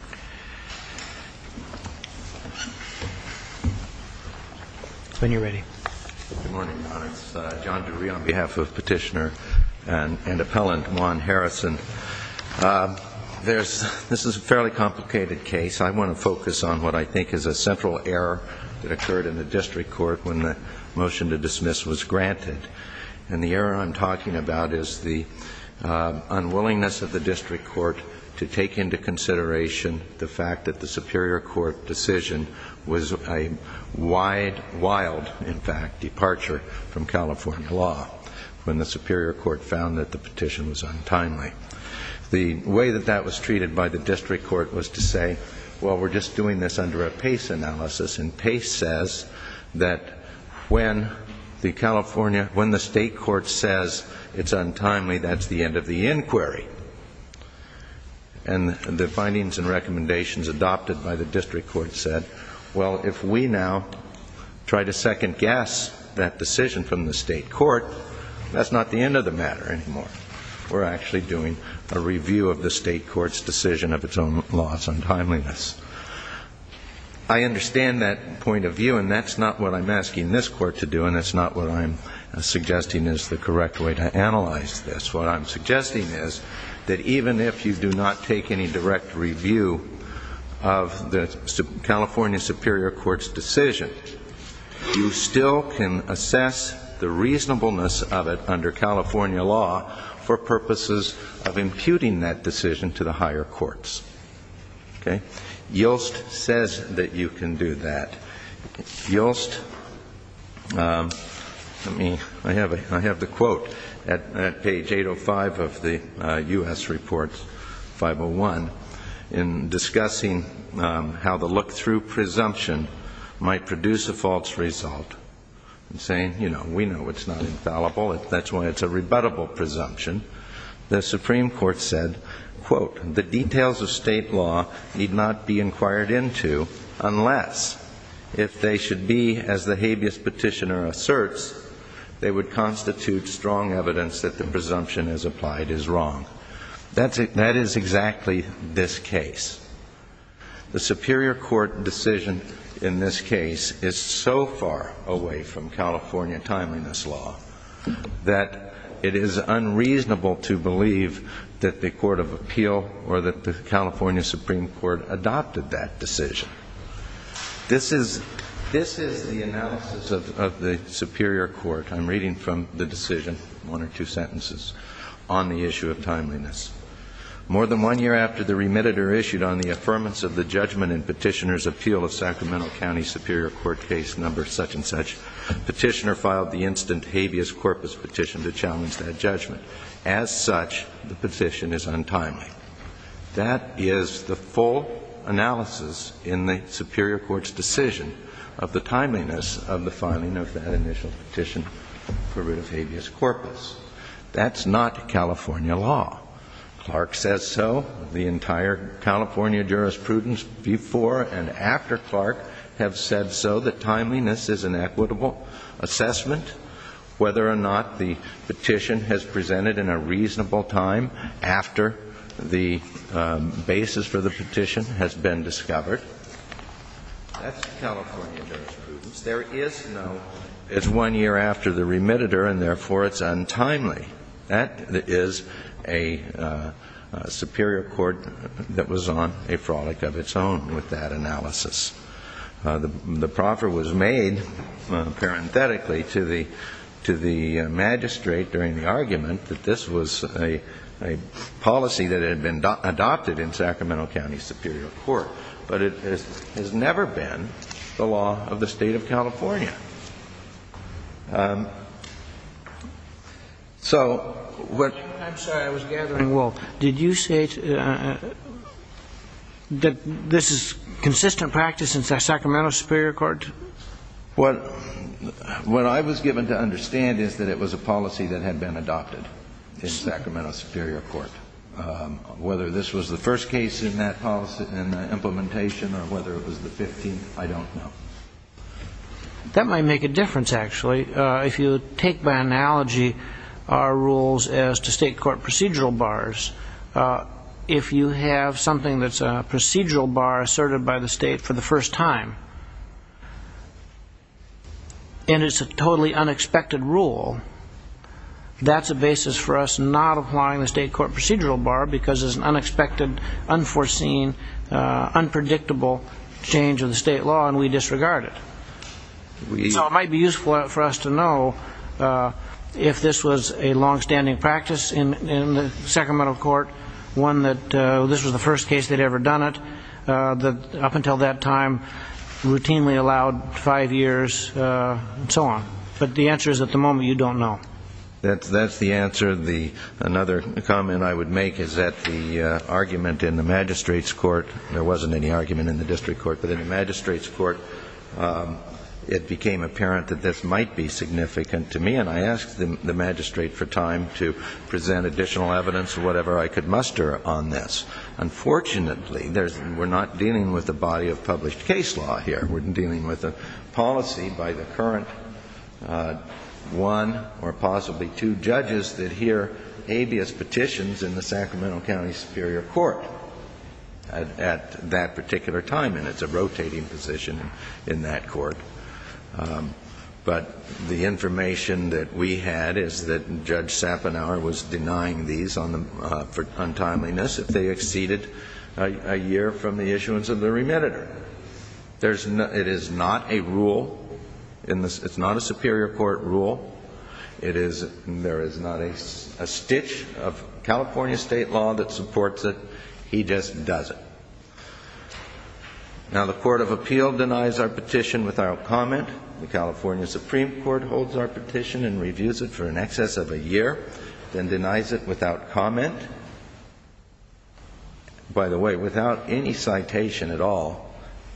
Good morning, Your Honor. It's John Drury on behalf of Petitioner and Appellant Juan Harrison. This is a fairly complicated case. I want to focus on what I think is a central error that occurred in the district court when the motion to dismiss was granted. And the error I'm talking about is the unwillingness of the district court to take into consideration the fact that the superior court decision was a wide, wild, in fact, departure from California law when the superior court found that the petition was untimely. The way that that was treated by the district court was to say, well, we're just doing this under a PACE analysis, and PACE says that when the state court says it's untimely, that's the end of the inquiry. And the findings and recommendations adopted by the district court said, well, if we now try to second-guess that decision from the state court, that's not the end of the matter anymore. We're actually doing a review of the state court's decision of its own loss, untimeliness. I understand that point of view, and that's not what I'm asking this court to do, and that's not what I'm suggesting is the correct way to analyze this. What I'm suggesting is that even if you do not take any direct review of the California superior court's decision, you still can assess the reasonableness of it under California law for purposes of imputing that decision to the higher courts. Okay? Yolst says that you can do that. Yolst, let me, I have the quote at PACE, and I'm not going to read it out. Page 805 of the U.S. report, 501, in discussing how the look-through presumption might produce a false result, saying, you know, we know it's not infallible, that's why it's a rebuttable presumption, the Supreme Court said, quote, the details of state law need not be inquired into unless, if they should be, as the habeas petitioner asserts, they would constitute strong evidence that the presumption as applied is wrong. That is exactly this case. The superior court decision in this case is so far away from California timeliness law that it is unreasonable to believe that the court of appeal or that the California Supreme Court adopted that decision. This is the analysis of the superior court I'm reading from the decision, one or two sentences, on the issue of timeliness. More than one year after the remitted or issued on the affirmance of the judgment in petitioner's appeal of Sacramento County Superior Court case number such-and-such, petitioner filed the instant habeas corpus petition to challenge that judgment. As such, the petition is untimely. That is the full analysis in the superior court's decision of the timeliness of the filing of that initial petition for rid of habeas corpus. That's not California law. Clark says so. The entire California jurisprudence before and after Clark have said so, that timeliness is an equitable assessment. Whether or not the petition has presented in a reasonable time after the basis for the petition has been discovered, that's California jurisprudence. There is no, it's one year after the remitted or and therefore it's untimely. That is a superior court that was on a frolic of its own with that analysis. The proffer was made, parenthetically, to the magistrate during the argument that this was a policy that had been adopted in Sacramento County Superior Court. But it has never been the law of the state of California. So what... I'm sorry, I was gathering. Well, did you say that this is consistent practice in Sacramento Superior Court? What I was given to understand is that it was a policy that had been adopted in Sacramento Superior Court. Whether this was the first case in that policy, in the implementation, or whether it was the 15th, I don't know. That might make a difference, actually. If you take by analogy our rules as to state court procedural bars, if you have something that's a procedural bar asserted by the state for the first time, and it's a totally unexpected rule, that's a basis for us not applying the state court procedural bar because it's an unexpected, unforeseen, unpredictable change of the state law, and we disregard it. So it might be useful for us to know if this was a longstanding practice in the Sacramento court, one that this was the first case they'd ever done it, that up until that time routinely allowed five years, and so on. But the answer is at the moment you don't know. That's the answer. Another comment I would make is that the argument in the magistrate's court, there wasn't any argument in the district court, but in the magistrate's court it became apparent that this might be significant to me, and I asked the magistrate for time to look at it. Fortunately, we're not dealing with a body of published case law here. We're dealing with a policy by the current one or possibly two judges that hear habeas petitions in the Sacramento County Superior Court at that particular time, and it's a rotating position in that court. But the information that we had is that Judge Sapanauer was denying these for untimeliness if they exceeded a year from the issuance of the remediator. It is not a rule. It's not a Superior Court rule. There is not a stitch of California state law that supports it. He just does it. Now the Court of Appeal denies our petition without comment. The California Supreme Court holds our petition and reviews it for in excess of a year, then denies it without comment. By the way, without any citation at all,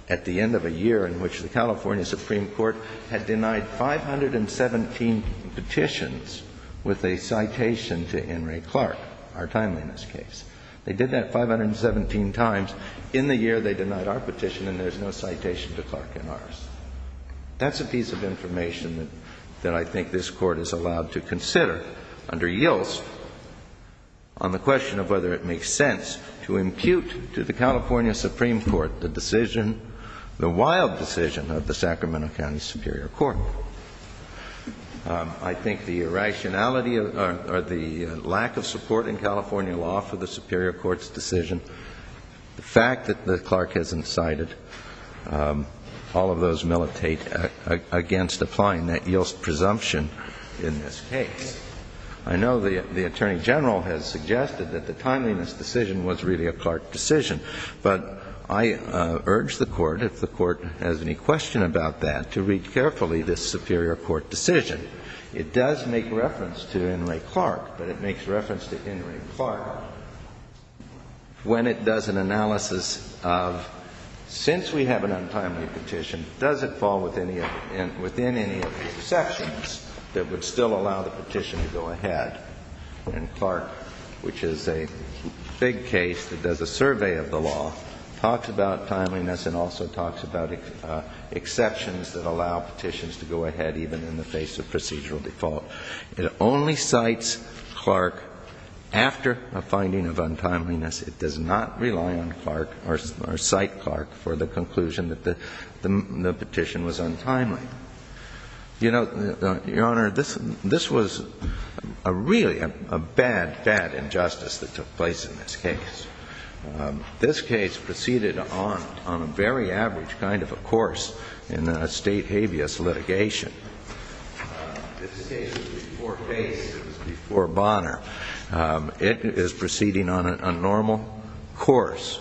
at the end of a year in which the California Supreme Court had denied 517 petitions with a citation to Henry Clark, our timeliness case. They did that 517 times. In the year they denied our petition and there's no citation to Clark in ours. That's a piece of information that I think this Court is allowed to consider under YILS on the question of whether it makes sense to impute to the California Supreme Court the decision, the wild decision of the Sacramento County Superior Court. I think the irrationality or the lack of support in California law for the Superior Court's decision, the fact that Clark hasn't cited all of those militate against applying that YILS presumption in this case. I know the Attorney General has suggested that the timeliness decision was really a Clark decision, but I urge the Court, if the Court has any question about that, to read carefully this Superior Court decision. It does make reference to Henry Clark, but it makes reference to Henry Clark when it does an analysis of since we have an untimely petition, does it fall within any of the exceptions that would still allow the petition to go ahead? And Clark, which is a big case that does a survey of the law, talks about timeliness and also talks about exceptions that allow petitions to go ahead. It only cites Clark after a finding of untimeliness. It does not rely on Clark or cite Clark for the conclusion that the petition was untimely. You know, Your Honor, this was really a bad, bad injustice that took place in this case. This case proceeded on a very average kind of a course in a State habeas litigation. This case was before Bace, it was before Bonner. It is proceeding on a normal course.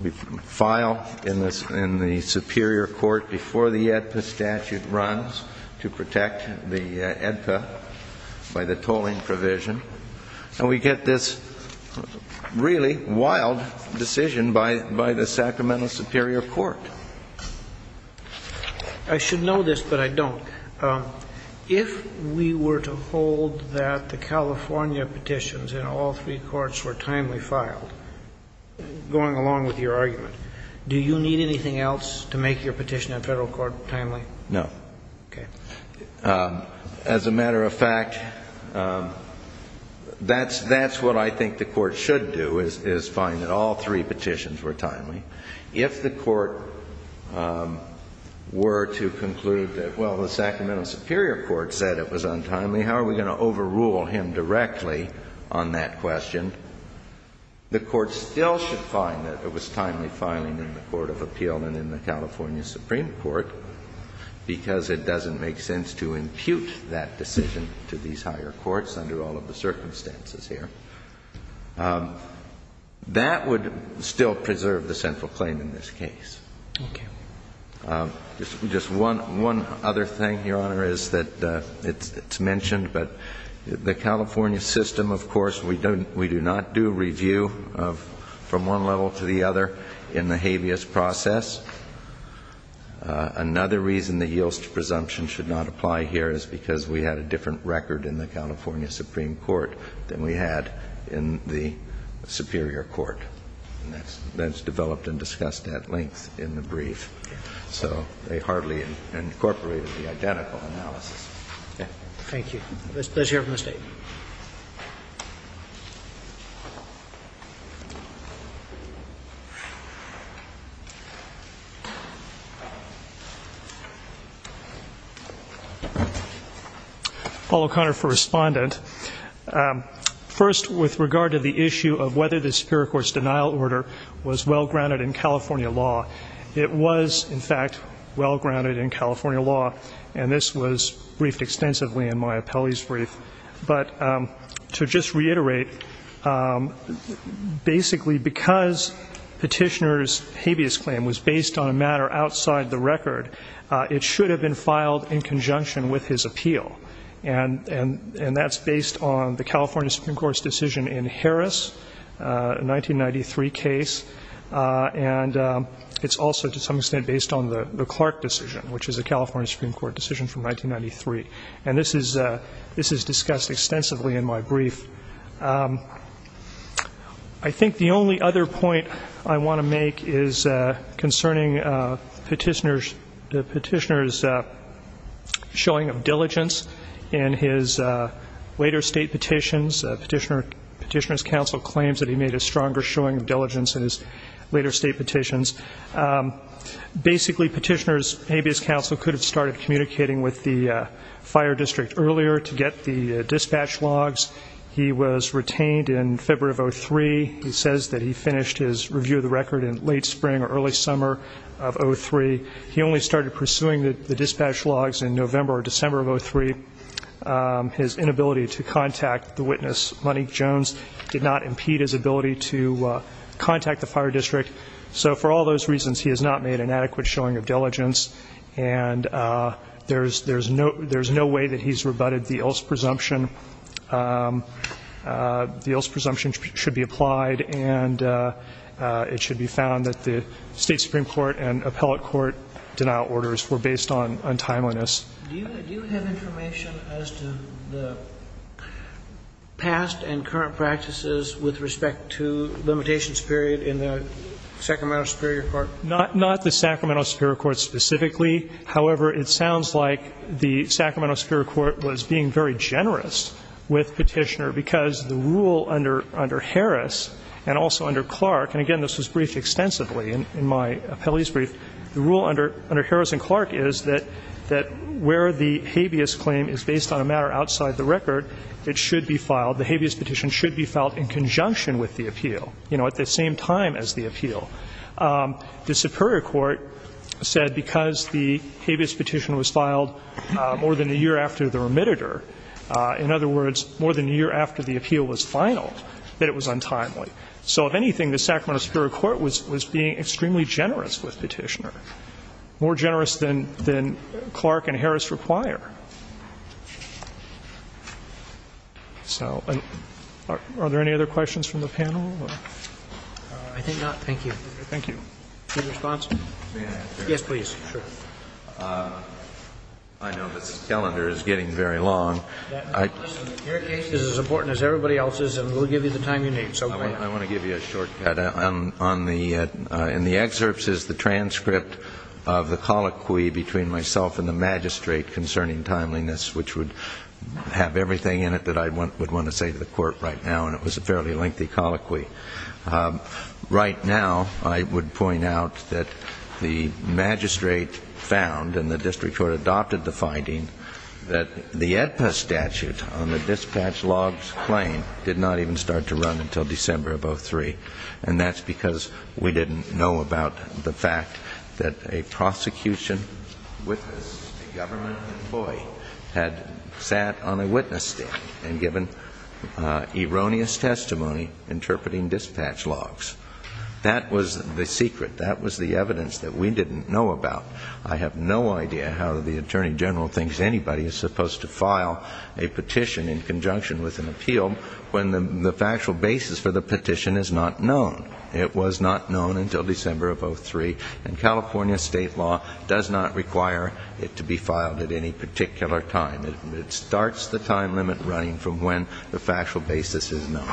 We file in the Superior Court before the AEDPA statute runs to protect the AEDPA by the tolling provision, and we get this really wild decision by the Sacramento Superior Court. I should know this, but I don't. If we were to hold that the California petitions in all three courts were timely filed, going along with your argument, do you need anything else to make your petition in federal court timely? No. As a matter of fact, that's what I think the Court should do, is find that all three petitions were timely. If the Court were to conclude that, well, the Sacramento Superior Court said it was untimely, how are we going to overrule him directly on that question? The Court still should find that it was timely filing in the Court of Appeal and in the California Supreme Court, because it doesn't make sense to impute that decision to these higher courts under all of the circumstances here. That would still preserve the central claim in this case. Thank you. Just one other thing, Your Honor, is that it's mentioned, but the California system, of course, we do not do review from one level to the other in the habeas process. Another reason the Yields to Presumption should not apply here is because we had a different record in the California Supreme Court than we had in the Superior Court, and that's developed and discussed at length in the brief. So they hardly incorporated the identical analysis. Thank you. Let's hear from the State. Paul O'Connor for Respondent. First, with regard to the issue of whether the Superior Court's denial order was well-grounded in California law, it was, in fact, well-grounded in California law, and this was briefed extensively in Maya Pelley's brief. But to just reiterate, basically because Petitioner's habeas claim was based on a matter outside the record, it should have been filed in conjunction with his appeal. And that's based on the California Supreme Court's decision in Harris, a 1993 case, and it's also, to some extent, based on the Clark decision, which is a California Supreme Court decision from 1993. And this is discussed extensively in my brief. I think the only other point I want to make is concerning Petitioner's showing of diligence in his later State petitions. Petitioner's counsel claims that he made a stronger showing of diligence in his later State petitions. Basically, Petitioner's habeas counsel could have started communicating with the fire district earlier to get the dispatch logs. He was retained in February of 2003. He says that he finished his review of the record in late spring or early summer of 2003. He only started pursuing the dispatch logs in November or December of 2003. His inability to contact the witness, Monique Jones, did not impede his ability to contact the fire district. So for all those reasons, he has not made an adequate showing of diligence. And there's no way that he's rebutted the Ilse presumption. The Ilse presumption should be applied, and it should be found that the State Supreme Court and appellate court denial orders were based on timeliness. Do you have information as to the past and current practices with respect to Petitioner's review limitations period in the Sacramento Superior Court? Not the Sacramento Superior Court specifically. However, it sounds like the Sacramento Superior Court was being very generous with Petitioner because the rule under Harris and also under Clark, and again, this was briefed extensively in my appellee's brief, the rule under Harris and Clark is that where the habeas claim is based on a matter outside the record, it should be filed, the habeas petition should be filed in conjunction with the appeal, you know, at the same time as the appeal. The Superior Court said because the habeas petition was filed more than a year after the remitter, in other words, more than a year after the appeal was finaled, that it was untimely. So if anything, the Sacramento Superior Court was being extremely generous with Petitioner, more generous than Clark and Harris require. So are there any other questions from the panel? I think not. Thank you. Thank you. Chief response? May I? Yes, please. Sure. I know the calendar is getting very long. Your case is as important as everybody else's, and we'll give you the time you need. So go ahead. I want to give you a shortcut. In the excerpts is the transcript of the colloquy between myself and the magistrate concerning timeliness, which would have everything in it that I would want to say to the court right now, and it was a fairly lengthy colloquy. Right now, I would point out that the magistrate found, and the district court adopted the finding, that the AEDPA statute on the dispatch logs claim did not even start to run until December of 2003, and that's because we didn't know about the fact that a prosecution witness, a government employee, had sat on a witness stand and given erroneous testimony interpreting dispatch logs. That was the secret. That was the evidence that we didn't know about. I have no idea how the Attorney General thinks anybody is supposed to file a petition in conjunction with an appeal when the factual basis for the petition is not known. It was not known until December of 2003, and California state law does not require it to be filed at any particular time. It starts the time limit running from when the factual basis is known.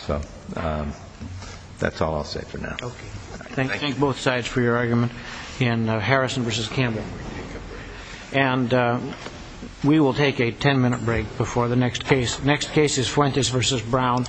So that's all I'll say for now. Thank you. I thank both sides for your argument in Harrison v. Campbell. And we will take a ten-minute break before the next case. Next case is Fuentes v. Brown.